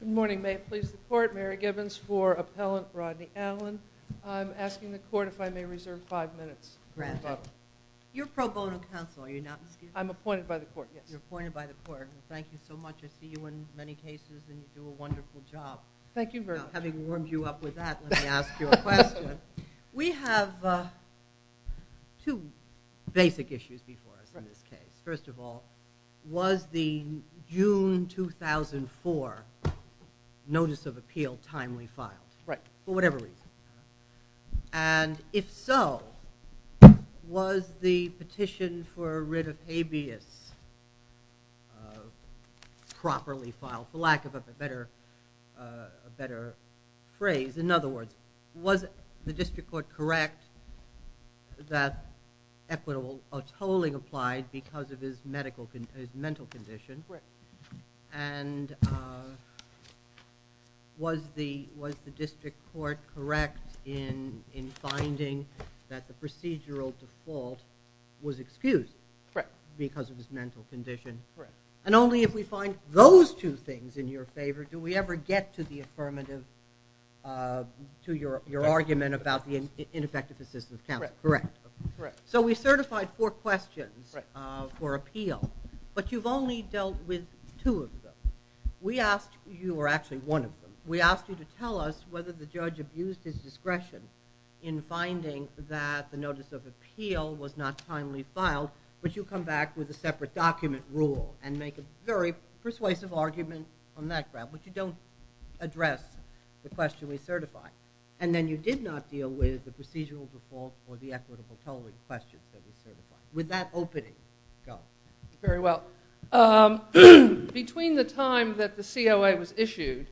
Good morning. May it please the court, Mary Gibbons for Appellant Rodney Allen. I'm asking the court if I may reserve five minutes. You're pro bono counsel, are you not? I'm appointed by the court, yes. You're appointed by the court. Thank you so much. I see you in many cases and you do a wonderful job. Thank you very much. Now, having warmed you up with that, let me ask you a question. We have two basic issues before us in this case. First of all, was the June 2004 Notice of Appeal timely filed for whatever reason? And if so, was the petition for writ of habeas properly filed, for lack of a better phrase? In other words, was the district court correct that equitable tolling applied because of his mental condition and was the district court correct in finding that the procedural default was excused because of his mental condition? And only if we find those two things in your favor do we ever get to the affirmative to your argument about the ineffective assistance counsel. So we certified four questions for appeal, but you've only dealt with two of them. We asked you to tell us whether the judge abused his discretion in finding that the Notice of Appeal was not timely filed, but you come back with a separate document rule and make a very persuasive argument on that ground, but you don't address the question we certified. And then you did not deal with the equitable tolling question that we certified. With that opening, go. Very well. Between the time that the COA was issued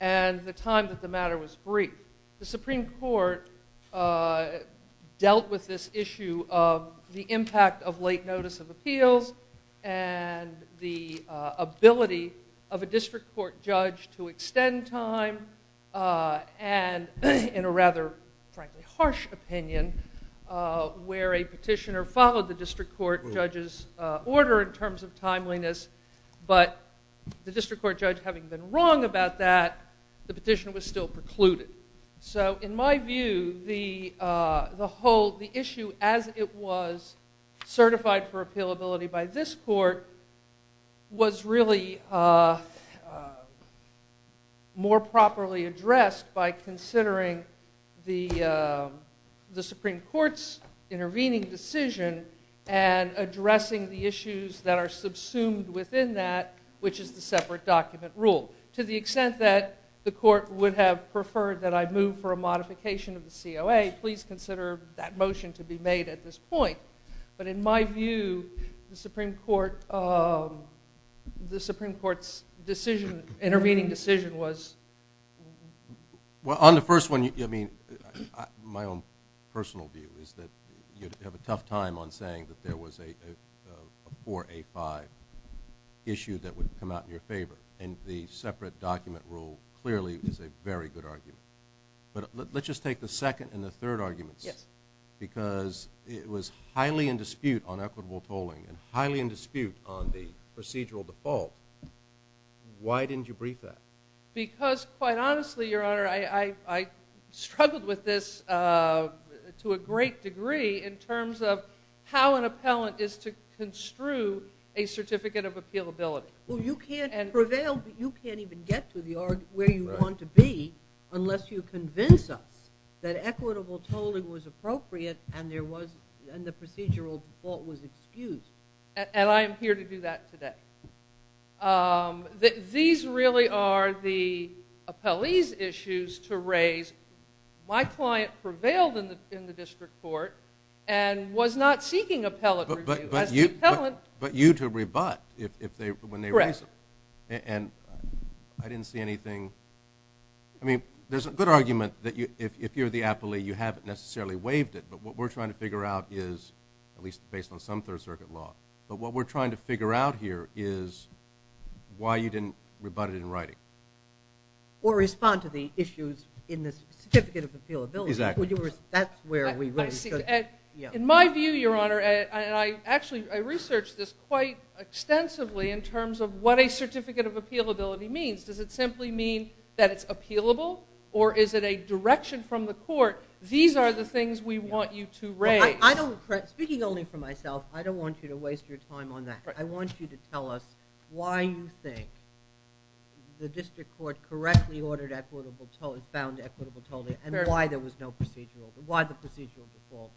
and the time that the matter was briefed, the Supreme Court dealt with this issue of the impact of late Notice of Appeals and the ability of a district court judge to extend time and in a rather, frankly, harsh opinion where a petitioner followed the district court judge's order in terms of timeliness, but the district court judge having been wrong about that, the petition was still precluded. So in my view, the issue as it was certified for by considering the Supreme Court's intervening decision and addressing the issues that are subsumed within that, which is the separate document rule. To the extent that the court would have preferred that I move for a modification of the COA, please consider that motion to be made at this point. But in my view, the Supreme Court's decision, intervening decision, was... Well, on the first one, I mean, my own personal view is that you'd have a tough time on saying that there was a 4A5 issue that would come out in your favor. And the separate document rule clearly is a very good argument. But let's just take the second and the third arguments. Yes. Because it was highly in dispute on equitable tolling and highly in dispute on the procedural default. Why didn't you brief that? Because quite honestly, Your Honor, I struggled with this to a great degree in terms of how an appellant is to construe a certificate of appealability. Well, you can't prevail, but you can't even get to the argument where you want to be unless you convince us that equitable tolling was appropriate and the procedural default was excused. And I am here to do that today. These really are the appellee's issues to raise. My client prevailed in the district court and was not seeking appellate review. But you to rebut when they raise them. Correct. And I didn't see anything... I mean, there's a good argument that if you're the appellee, you haven't necessarily waived it. But what we're trying to figure out here is why you didn't rebut it in writing. Or respond to the issues in the certificate of appealability. Exactly. That's where we really should... In my view, Your Honor, and I actually researched this quite extensively in terms of what a certificate of appealability means. Does it simply mean that it's appealable or is it a direction from the court? These are the things we want you to raise. I don't... Speaking only for myself, I don't want you to waste your time on that. I want you to tell us why you think the district court correctly ordered equitable tolling... found equitable tolling and why there was no procedural... why the procedural default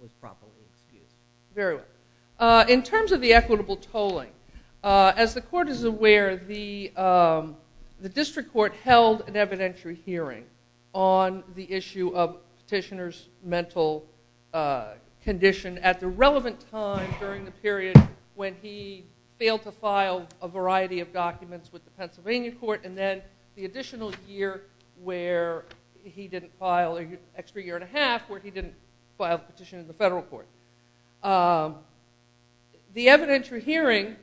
was properly excused. Very well. In terms of the equitable tolling, as the court is aware, the district court held an evidentiary hearing on the issue of petitioner's mental condition at the relevant time during the period when he failed to file a variety of documents with the Pennsylvania court and then the additional year where he didn't file... an extra year and a half where he didn't file the petition in the federal court. The evidentiary hearing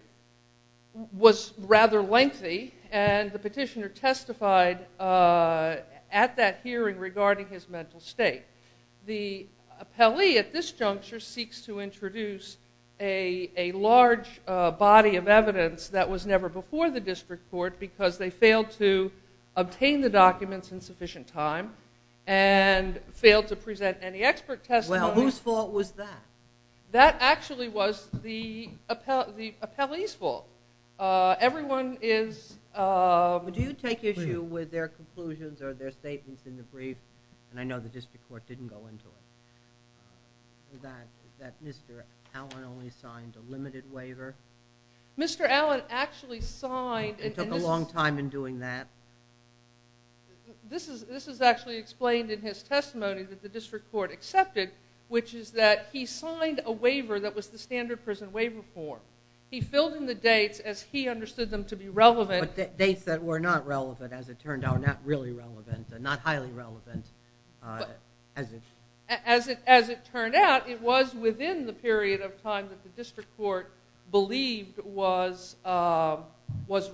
was rather lengthy and the at that hearing regarding his mental state. The appellee at this juncture seeks to introduce a large body of evidence that was never before the district court because they failed to obtain the documents in sufficient time and failed to present any expert testimony. Well, whose fault was that? That actually was the appellee's fault. Everyone is... Do you take issue with their conclusions or their statements in the brief? And I know the district court didn't go into it. That Mr. Allen only signed a limited waiver. Mr. Allen actually signed... It took a long time in doing that. This is actually explained in his testimony that the district court accepted which is that he signed a waiver that was the standard prison waiver form. He filled in the not highly relevant... As it turned out, it was within the period of time that the district court believed was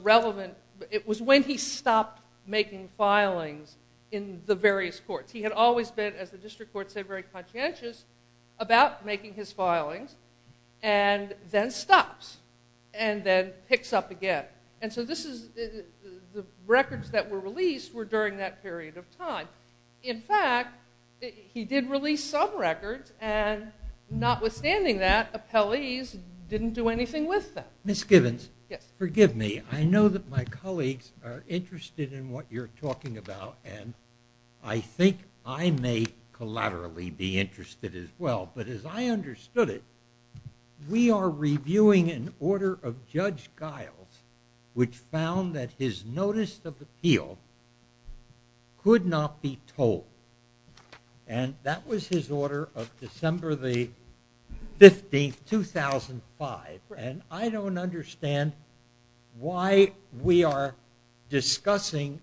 relevant. It was when he stopped making filings in the various courts. He had always been, as the district court said, very conscientious about making his filings and then and then picks up again. And so this is... The records that were released were during that period of time. In fact, he did release some records and notwithstanding that, appellees didn't do anything with them. Ms. Gibbons, forgive me. I know that my colleagues are interested in what you're talking about and I think I may collaterally be interested as well. But as I understood it, we are reviewing an order of Judge Giles which found that his notice of appeal could not be told. And that was his order of December the 15th, 2005. And I don't understand why we are discussing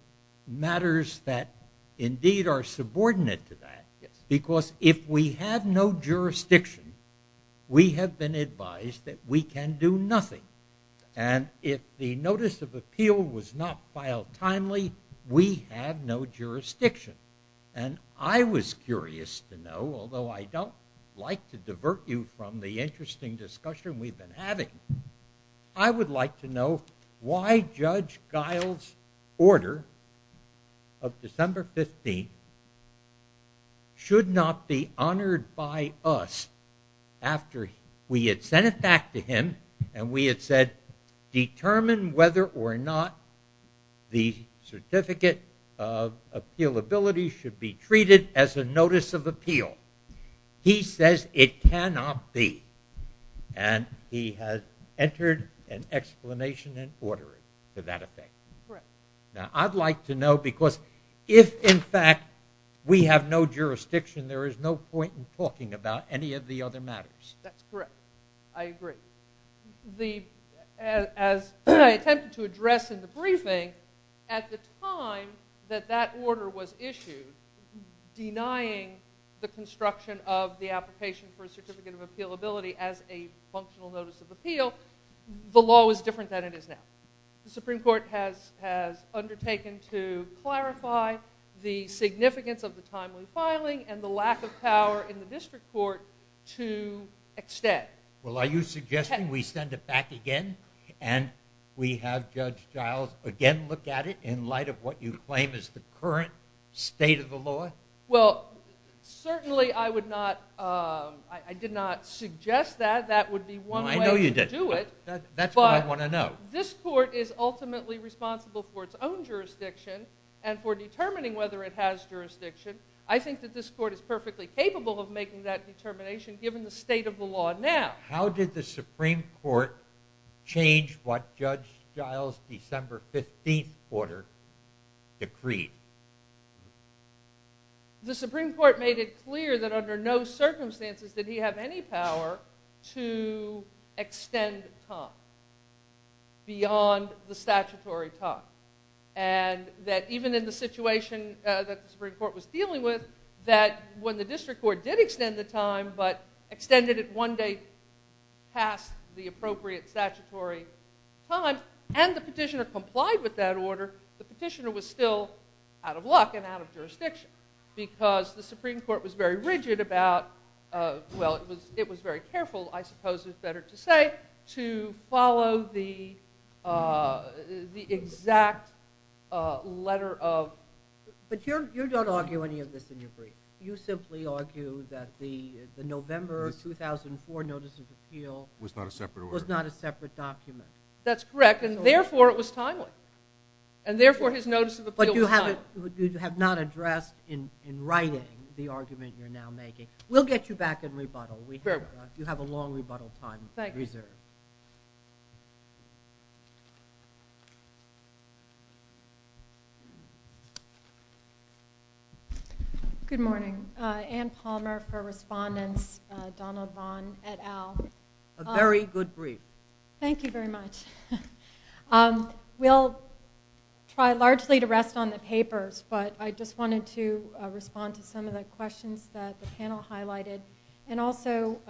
matters that indeed are subordinate to that. Because if we had no jurisdiction, we have been advised that we can do nothing. And if the notice of appeal was not filed timely, we had no jurisdiction. And I was curious to know, although I don't like to divert you from the interesting discussion we've been having, I would like to know why Judge Giles' order of December 15th should not be honored by us after we had sent it back to him and we had said, determine whether or not the certificate of appealability should be treated as a notice of appeal. He says it cannot be. And he has entered an explanation and ordering to that effect. Now, I'd like to know, because if in fact we have no jurisdiction, there is no point in talking about any of the other matters. That's correct. I agree. As I attempted to address in the briefing, at the time that that order was issued, denying the construction of the application for a certificate of appealability as a functional notice of appeal, the law was different than it is now. The Supreme Court has undertaken to clarify the significance of the timely filing and the lack of power in the district court to extend. Well, are you suggesting we send it back again and we have Judge Giles again look at it in light of what you claim is the current state of the law? Well, certainly I would not, I did not suggest that. That would be one way to do it. That's what I want to know. This court is ultimately responsible for its own jurisdiction and for determining whether it has jurisdiction. I think that this court is perfectly capable of making that determination given the state of the law now. How did the Supreme Court change what Judge Giles' December 15th order decreed? The Supreme Court made it clear that under no circumstances did he have any power to extend time beyond the statutory time. And that even in the situation that the Supreme Court was dealing with, that when the district court did extend the time but extended it one day past the appropriate statutory time and the petitioner complied with that order, the petitioner was still out of luck and out of jurisdiction because the Supreme Court was very careful, I suppose it's better to say, to follow the exact letter of... But you don't argue any of this in your brief. You simply argue that the November 2004 Notice of Appeal was not a separate document. That's correct, and therefore it was timely. And therefore his Notice of Appeal was timely. But you have not addressed in writing the argument you're now making. We'll get you back in rebuttal. You have a long rebuttal time reserved. Good morning. Ann Palmer for Respondents, Donald Vaughn et al. A very good brief. Thank you very much. We'll try largely to rest on the papers, but I just wanted to address some of the questions that the panel highlighted and also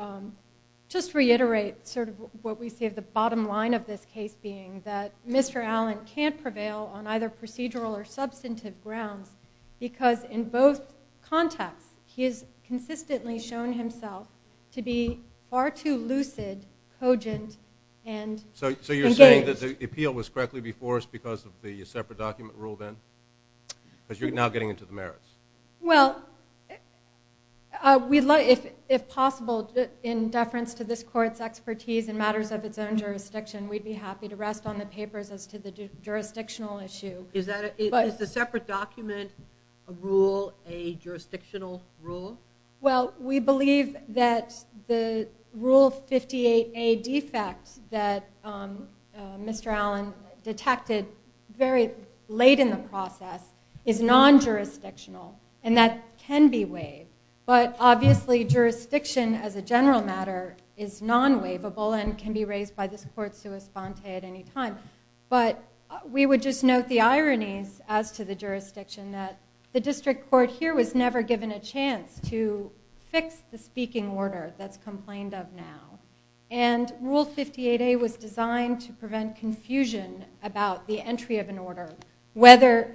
just reiterate sort of what we see as the bottom line of this case being that Mr. Allen can't prevail on either procedural or substantive grounds because in both contexts he has consistently shown himself to be far too lucid, cogent, and engaged. So you're saying that the appeal was correctly before us because of the separate document rule then? Because you're now getting into the merits. Well, if possible, in deference to this court's expertise in matters of its own jurisdiction, we'd be happy to rest on the papers as to the jurisdictional issue. Is the separate document rule a jurisdictional rule? Well, we believe that the Rule 58A defect that Mr. Allen detected very late in the process is non-jurisdictional, and that can be waived. But obviously, jurisdiction as a general matter is non-waivable and can be raised by this court sua sponte at any time. But we would just note the ironies as to the jurisdiction that the district court here was never given a chance to fix the speaking order that's complained of now. And Rule 58A was designed to prevent confusion about the entry of an order, whether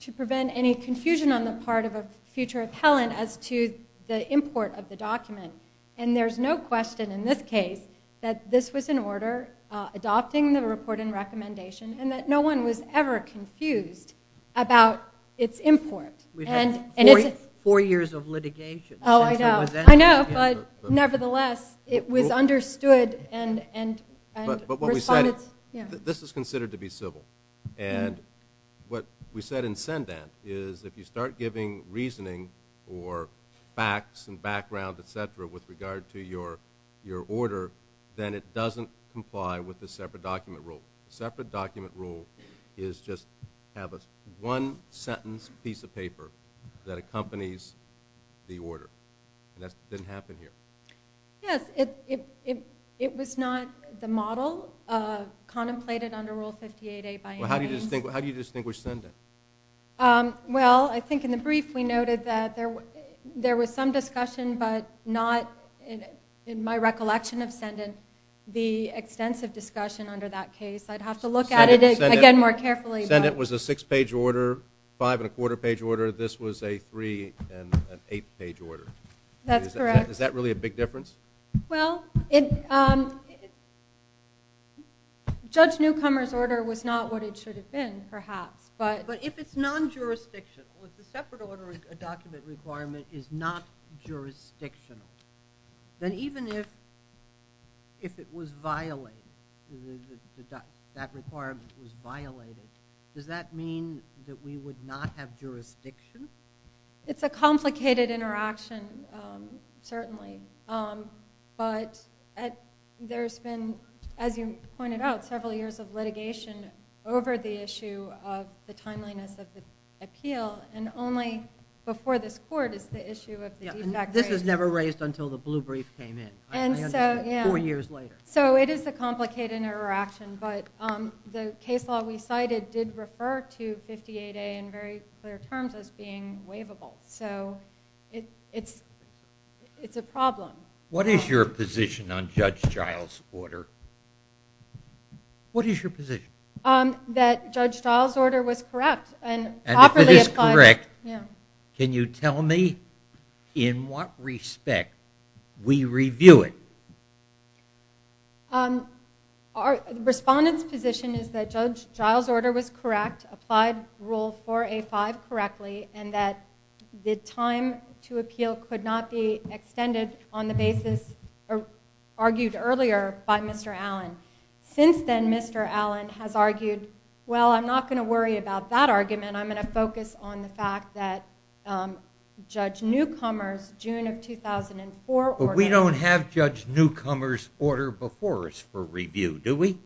to prevent any confusion on the part of a future appellant as to the import of the document. And there's no question in this case that this was in order, adopting the report and recommendation, and that no one was ever confused about its import. We've had four years of litigation. Oh, I know. I know, but nevertheless, it was understood and responded to. This is considered to be civil. And what we said in Sendant is if you start giving reasoning or facts and background, et cetera, with regard to your order, then it doesn't comply with the separate document rule. The separate document rule is just have a one-sentence piece of paper that accompanies the order, and that didn't happen here. Yes, it was not the model contemplated under Rule 58A by any means. How do you distinguish Sendant? Well, I think in the brief, we noted that there was some discussion, but not, in my recollection of Sendant, the extensive discussion under that case. I'd have to look at it again more carefully. Sendant was a six-page order, five-and-a-quarter-page order. This was a three-and-an-eight-page order. That's correct. Is that really a big difference? Well, Judge Newcomer's order was not what it should have been, perhaps. But if it's non-jurisdictional, if the separate order document requirement is not jurisdictional, then even if it was violated, that requirement was violated, does that mean that we would not have jurisdiction? It's a complicated interaction, certainly, but there's been, as you pointed out, several years of litigation over the issue of the timeliness of the appeal, and only before this Court is the issue of the defect rate— This was never raised until the blue brief came in, four years later. So it is a complicated interaction, but the case law we cited did refer to 58A in very clear terms as being waivable. So it's a problem. What is your position on Judge Giles' order? What is your position? That Judge Giles' order was correct and properly applied— And if it is correct, can you tell me in what respect we review it? Respondent's position is that Judge Giles' order was correct, applied Rule 4A5 correctly, and that the time to appeal could not be extended on the basis argued earlier by Mr. Allen. Since then, Mr. Allen has argued, well, I'm not going to worry about that argument, I'm going to focus on the fact that Judge Newcomer's June of 2004 order— But we don't have Judge Newcomer's order before us for review, do we?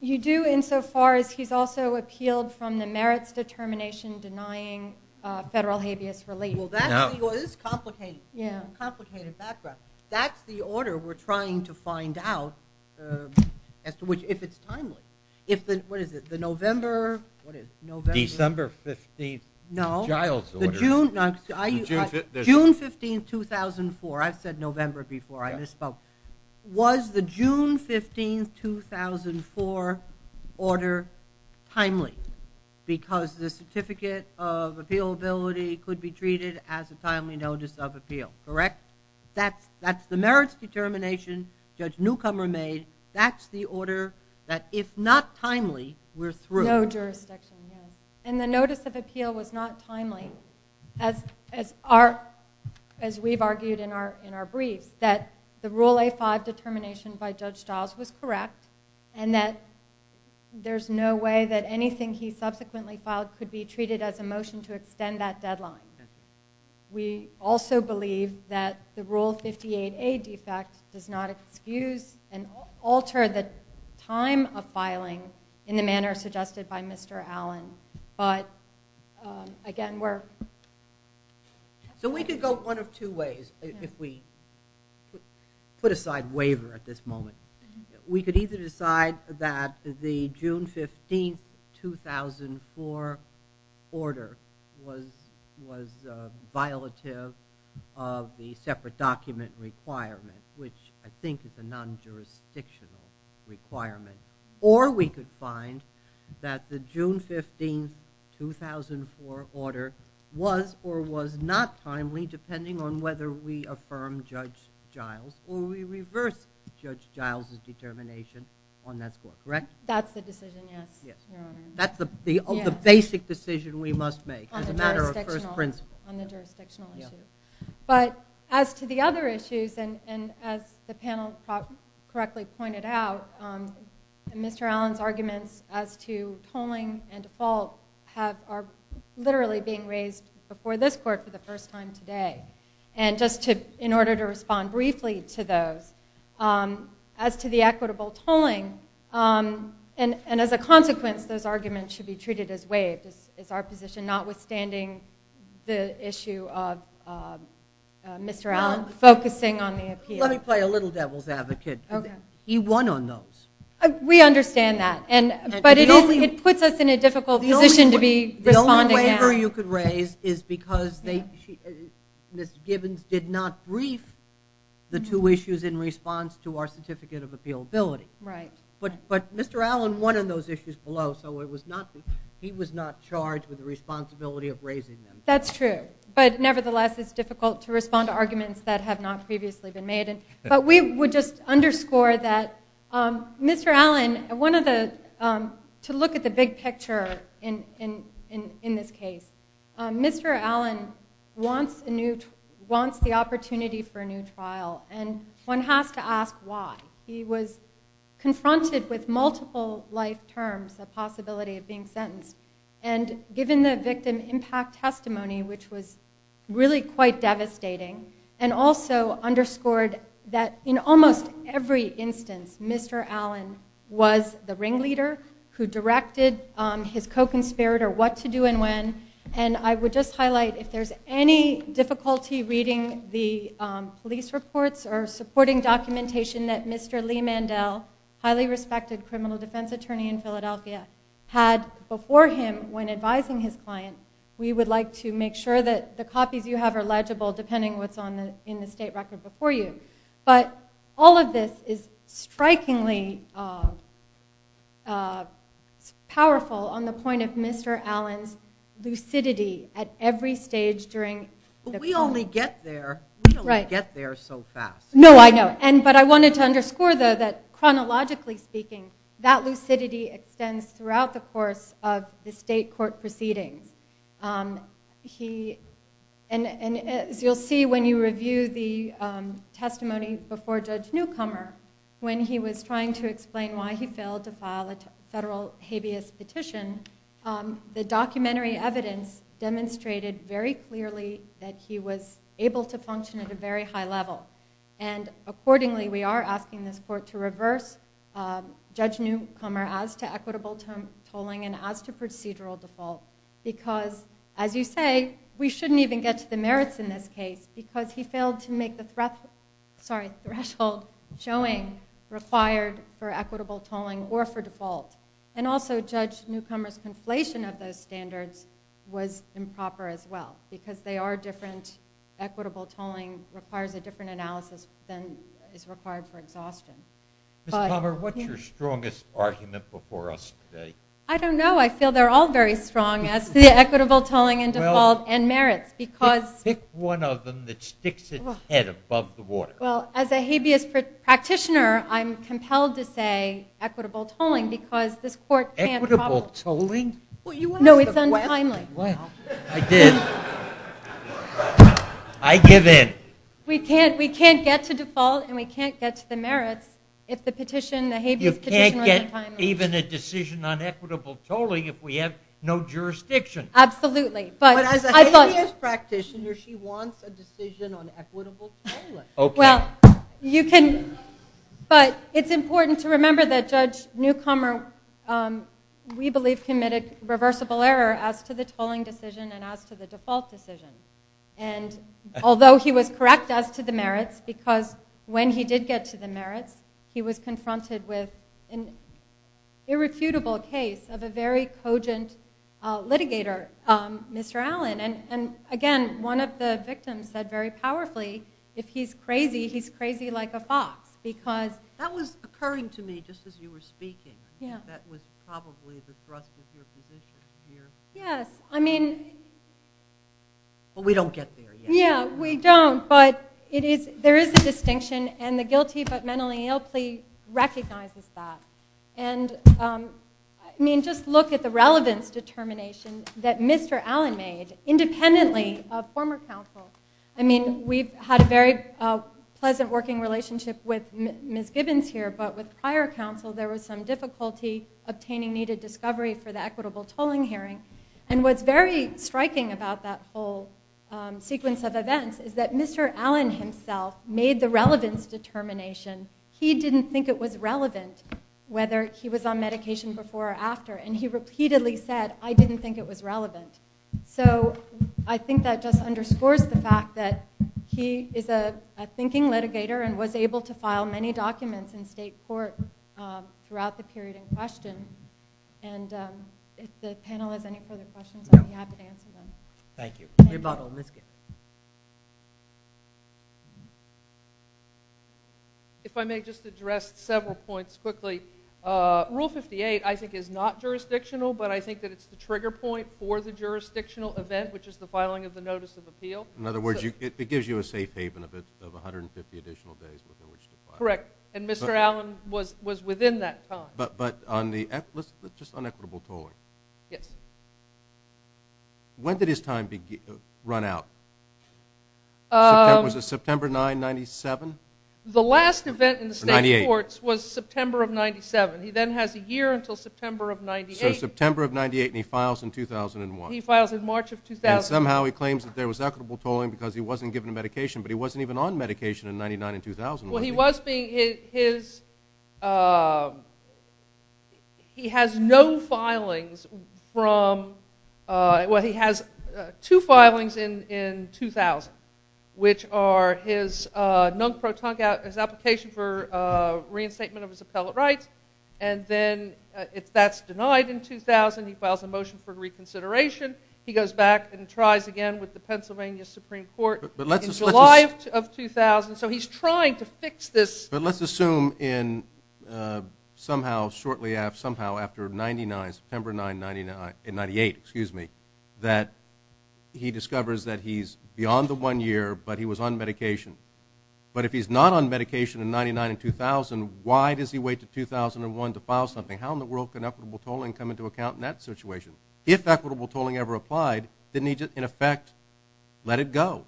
You do, insofar as he's also appealed from the merits determination denying federal habeas relief. Well, that's the order—this is complicated, complicated background. That's the order we're trying to find out as to which—if it's timely. If the—what is it? The November—what is it? December 15th Giles' order. No, the June—June 15th, 2004. I've said November before, I misspoke. Was the June 15th, 2004 order timely? Because the certificate of appealability could be treated as a timely notice of appeal, correct? That's the merits determination Judge Newcomer made. That's the order that, if not timely, we're through. No jurisdiction, no. And the notice of appeal was not timely, as we've argued in our briefs, that the Rule A-5 determination by Judge Giles was correct and that there's no way that anything he subsequently filed could be treated as a motion to extend that deadline. We also believe that the Rule 58A defect does not excuse and alter the time of filing in the manner suggested by Mr. Allen, but, again, we're— So we could go one of two ways if we put aside waiver at this moment. We could either decide that the June 15th, 2004 order was violative of the separate document requirement, which I think is a non-jurisdictional requirement, or we could find that the June 15th, 2004 order was or was not timely, depending on whether we affirm Judge Giles or we reverse Judge Giles' determination on that score, correct? That's the decision, yes, Your Honor. That's the basic decision we must make as a matter of first principle. On the jurisdictional issue. But as to the other issues, and as the panel correctly pointed out, Mr. Allen's arguments as to tolling and default have—are literally being raised before this Court for the first time today. And just to—in order to respond briefly to those, as to the equitable tolling, and as a consequence, those arguments should be treated as waived. It's our position, notwithstanding the issue of Mr. Allen focusing on the appeal. Let me play a little devil's advocate. Okay. He won on those. We understand that. And—but it is—it puts us in a difficult position to be responding now. The only waiver you could raise is because they—Ms. Gibbons did not brief the two issues in response to our Certificate of Appealability. Right. But—but Mr. Allen won on those issues below, so it was not—he was not charged with the responsibility of raising them. That's true. But nevertheless, it's difficult to respond to arguments that have not previously been made. But we would just underscore that Mr. Allen—one of the—to look at the big picture in this case, Mr. Allen wants a new—wants the opportunity for a new trial, and one has to ask why. He was confronted with multiple life terms, the possibility of being sentenced, and given the victim impact testimony, which was really quite devastating, and also underscored that in almost every instance, Mr. Allen was the ringleader who directed his co-conspirator what to do and when. And I would just highlight, if there's any difficulty reading the police reports or supporting documentation that Mr. Lee Mandel, highly respected criminal defense attorney in Philadelphia, had before him when advising his client, we would like to make sure that the copies you have are legible, depending on what's on the—in the state record before you. But all of this is strikingly powerful on the point of Mr. Allen's lucidity at every stage during— But we only get there— Right. We only get there so fast. No, I know. But I wanted to underscore, though, that chronologically speaking, that lucidity extends throughout the course of the state court proceedings. And as you'll see when you review the testimony before Judge Newcomer, when he was trying to explain why he failed to file a federal habeas petition, the documentary evidence demonstrated very clearly that he was able to function at a very high level. And accordingly, we are asking this court to reverse Judge Newcomer as to equitable tolling and as to procedural default, because, as you say, we shouldn't even get to the merits in this case, because he failed to make the threshold showing required for equitable tolling or for default. And also, Judge Newcomer's conflation of those standards was improper as well, because they are different. Equitable tolling requires a different analysis than is required for exhaustion. Ms. Palmer, what's your strongest argument before us today? I don't know. I feel they're all very strong as to the equitable tolling and default and merits, because— Pick one of them that sticks its head above the water. Well, as a habeas practitioner, I'm compelled to say equitable tolling, because this court can't— Equitable tolling? Well, you asked the question. No, it's untimely. Well, I did. I give in. We can't get to default and we can't get to the merits if the petition, the habeas petition— You can't get even a decision on equitable tolling if we have no jurisdiction. Absolutely, but— But as a habeas practitioner, she wants a decision on equitable tolling. Okay. Well, you can—but it's important to remember that Judge Newcomer, we believe, committed reversible error as to the tolling decision and as to the default decision. And although he was correct as to the merits, because when he did get to the merits, he was confronted with an irrefutable case of a very cogent litigator, Mr. Allen. And again, one of the victims said very powerfully, if he's crazy, he's crazy like a fox, because— That was occurring to me just as you were speaking. Yeah. That was probably the thrust of your position here. Yes. I mean— But we don't get there yet. Yeah, we don't. But it is—there is a distinction and the guilty but mentally ill plea recognizes that. And, I mean, just look at the relevance determination that Mr. Allen made, independently of former counsel. I mean, we've had a very pleasant working relationship with Ms. Gibbons here, but with obtaining needed discovery for the equitable tolling hearing. And what's very striking about that whole sequence of events is that Mr. Allen himself made the relevance determination. He didn't think it was relevant, whether he was on medication before or after. And he repeatedly said, I didn't think it was relevant. So I think that just underscores the fact that he is a thinking litigator and was able to file many documents in state court throughout the period in question. And if the panel has any further questions, I'll be happy to answer them. Rebuttal, Ms. Gibbons. If I may just address several points quickly. Rule 58, I think, is not jurisdictional, but I think that it's the trigger point for the jurisdictional event, which is the filing of the Notice of Appeal. In other words, it gives you a safe haven of 150 additional days within which to file. Correct. And Mr. Allen was within that time. But just on equitable tolling. Yes. When did his time run out? Was it September 9, 97? The last event in the state courts was September of 97. He then has a year until September of 98. So September of 98, and he files in 2001. He files in March of 2000. And somehow he claims that there was equitable tolling because he wasn't given a medication, but he wasn't even on medication in 99 and 2000. Well, he was being, his, he has no filings from, well, he has two filings in 2000, which are his nunc pro tonc, his application for reinstatement of his appellate rights. And then if that's denied in 2000, he files a motion for reconsideration. He goes back and tries again with the Pennsylvania Supreme Court in July of 2000. So he's trying to fix this. But let's assume in somehow, shortly after, somehow after 99, September 9, 98, excuse me, that he discovers that he's beyond the one year, but he was on medication. But if he's not on medication in 99 and 2000, why does he wait to 2001 to file something? How in the world can equitable tolling come into account in that situation? If equitable tolling ever applied, then he just, in effect, let it go.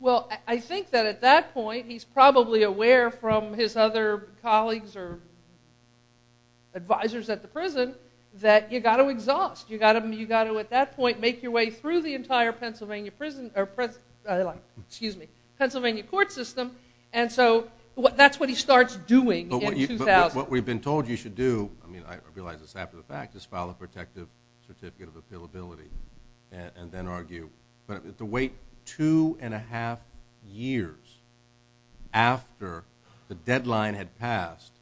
Well, I think that at that point, he's probably aware from his other colleagues or advisors at the prison that you got to exhaust. You got to, you got to at that point, make your way through the entire Pennsylvania prison or, excuse me, Pennsylvania court system. And so that's what he starts doing in 2000. But what we've been told you should do, I mean, I realize it's half of the fact, just file a protective certificate of appealability and then argue. But to wait two and a half years after the deadline had passed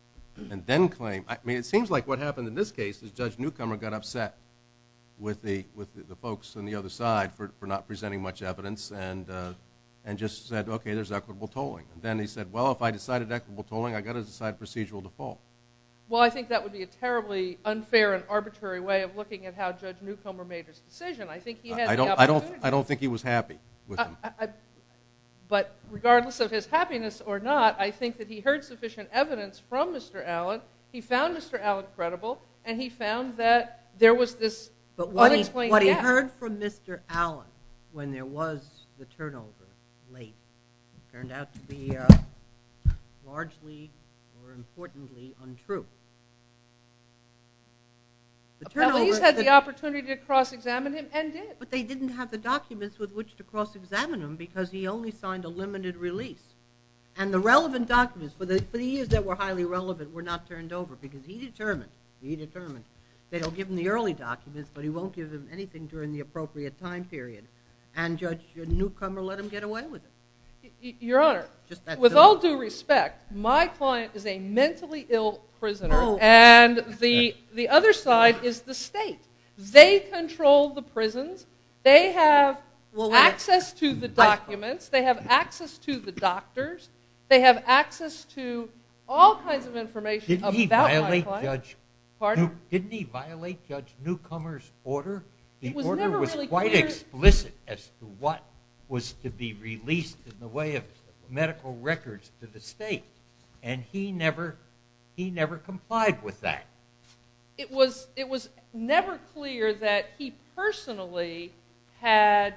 and then claim, I mean, it seems like what happened in this case is Judge Newcomer got upset with the folks on the other side for not presenting much evidence and just said, okay, there's equitable tolling. And then he said, well, if I decided equitable tolling, I got to decide procedural default. Well, I think that would be a terribly unfair and arbitrary way of looking at how Judge Newcomer made his decision. I think he had the opportunity. I don't think he was happy with them. But regardless of his happiness or not, I think that he heard sufficient evidence from Mr. Allen. He found Mr. Allen credible. And he found that there was this unexplained gap. But what he heard from Mr. Allen when there was the turnover late turned out to be largely or importantly untrue. Well, he's had the opportunity to cross-examine him and did. But they didn't have the documents with which to cross-examine him because he only signed a limited release. And the relevant documents for the years that were highly relevant were not turned over because he determined, he determined they'll give him the early documents, but he won't give him anything during the appropriate time period. And Judge Newcomer let him get away with it. Your Honor, with all due respect, my client is a mentally ill prisoner. And the other side is the state. They control the prisons. They have access to the documents. They have access to the doctors. They have access to all kinds of information about my client. Didn't he violate Judge Newcomer's order? The order was quite explicit as to what was to be released in the way of medical records to the state. And he never, he never complied with that. It was never clear that he personally had,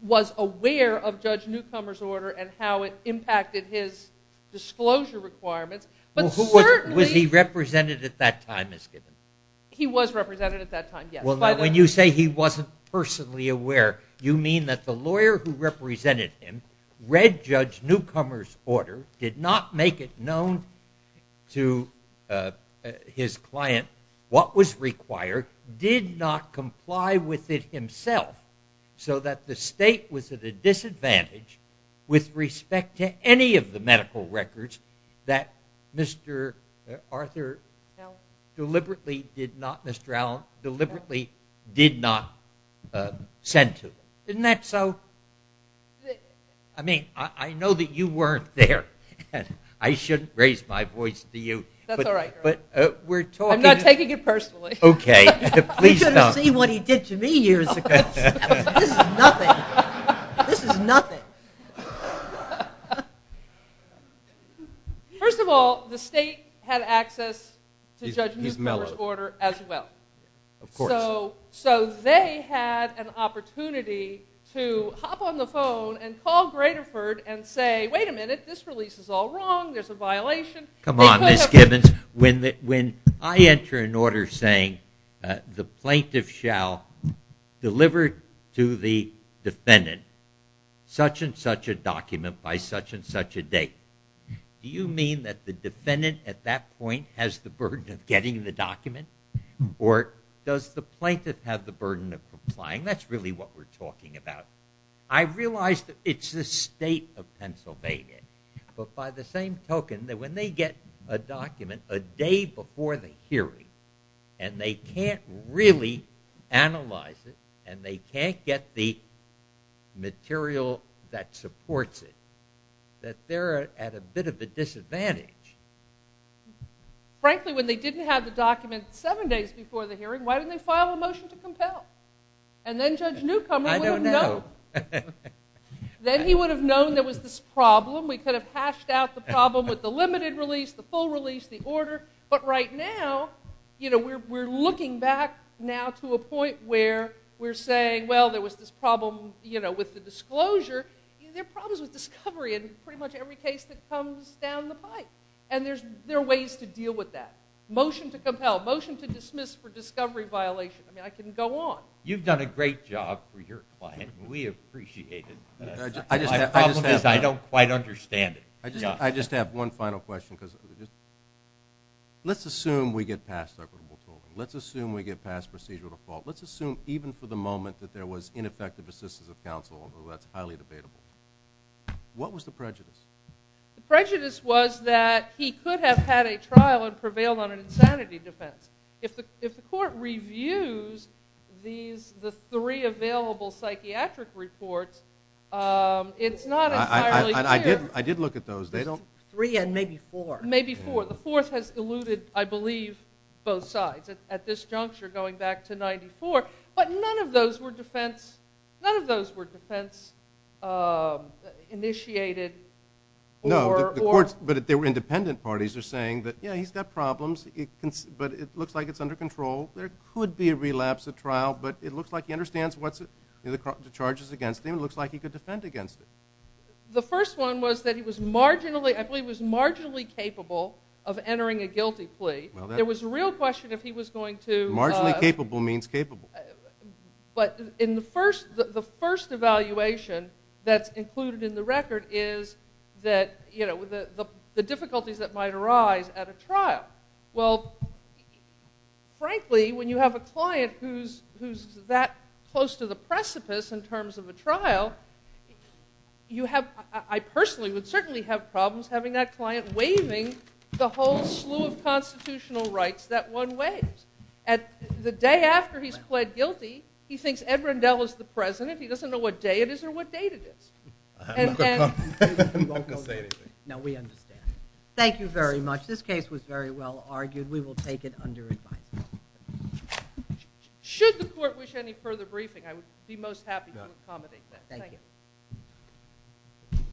was aware of Judge Newcomer's order and how it impacted his disclosure requirements. Well, was he represented at that time as given? He was represented at that time, yes. When you say he wasn't personally aware, you mean that the lawyer who represented him read Judge Newcomer's order, did not make it known to his client what was required, did not comply with it himself so that the state was at a disadvantage with respect to any of the medical did not send to him. Didn't that so? I mean, I know that you weren't there. I shouldn't raise my voice to you. That's all right. But we're talking. I'm not taking it personally. Okay, please don't. You should have seen what he did to me years ago. This is nothing. This is nothing. First of all, the state had access to Judge Newcomer's order as well. Of course. So they had an opportunity to hop on the phone and call Graterford and say, wait a minute, this release is all wrong. There's a violation. Come on, Ms. Gibbons. When I enter an order saying the plaintiff shall deliver to the defendant such and such a document by such and such a date, do you mean that the defendant at that point has the burden of getting the document or does the plaintiff have the burden of complying? That's really what we're talking about. I realize that it's the state of Pennsylvania. But by the same token, that when they get a document a day before the hearing and they can't really analyze it and they can't get the material that supports it, that they're at a bit of a disadvantage. Frankly, when they didn't have the document seven days before the hearing, why didn't they file a motion to compel? And then Judge Newcomer would have known. I don't know. Then he would have known there was this problem. We could have hashed out the problem with the limited release, the full release, the order. But right now, we're looking back now to a point where we're saying, well, there was this problem with the disclosure. There are problems with discovery in pretty much every case that comes down the pipe. And there are ways to deal with that. Motion to compel, motion to dismiss for discovery violation. I mean, I can go on. You've done a great job for your client. We appreciate it. I don't quite understand it. I just have one final question. Let's assume we get past equitable tolling. Let's assume we get past procedural default. Let's assume even for the moment that there was ineffective assistance of counsel, although that's highly debatable. What was the prejudice? The prejudice was that he could have had a trial and prevailed on an insanity defense. If the court reviews the three available psychiatric reports, it's not entirely clear. I did look at those. Three and maybe four. Maybe four. The fourth has eluded, I believe, both sides. At this juncture, going back to 94. But none of those were defense initiated. No, but they were independent parties. They're saying that, yeah, he's got problems, but it looks like it's under control. There could be a relapse at trial, but it looks like he understands what's the charges against him. It looks like he could defend against it. The first one was that he was marginally capable of entering a guilty plea. There was a real question if he was going to- But the first evaluation that's included in the record is the difficulties that might arise at a trial. Well, frankly, when you have a client who's that close to the precipice in terms of a trial, I personally would certainly have problems having that client waiving the whole slew of constitutional rights that one waives. The day after he's pled guilty, he thinks Ed Rendell is the president. He doesn't know what day it is or what date it is. I'm not going to say anything. No, we understand. Thank you very much. This case was very well argued. We will take it under advice. Should the court wish any further briefing, I would be most happy to accommodate that. Thank you.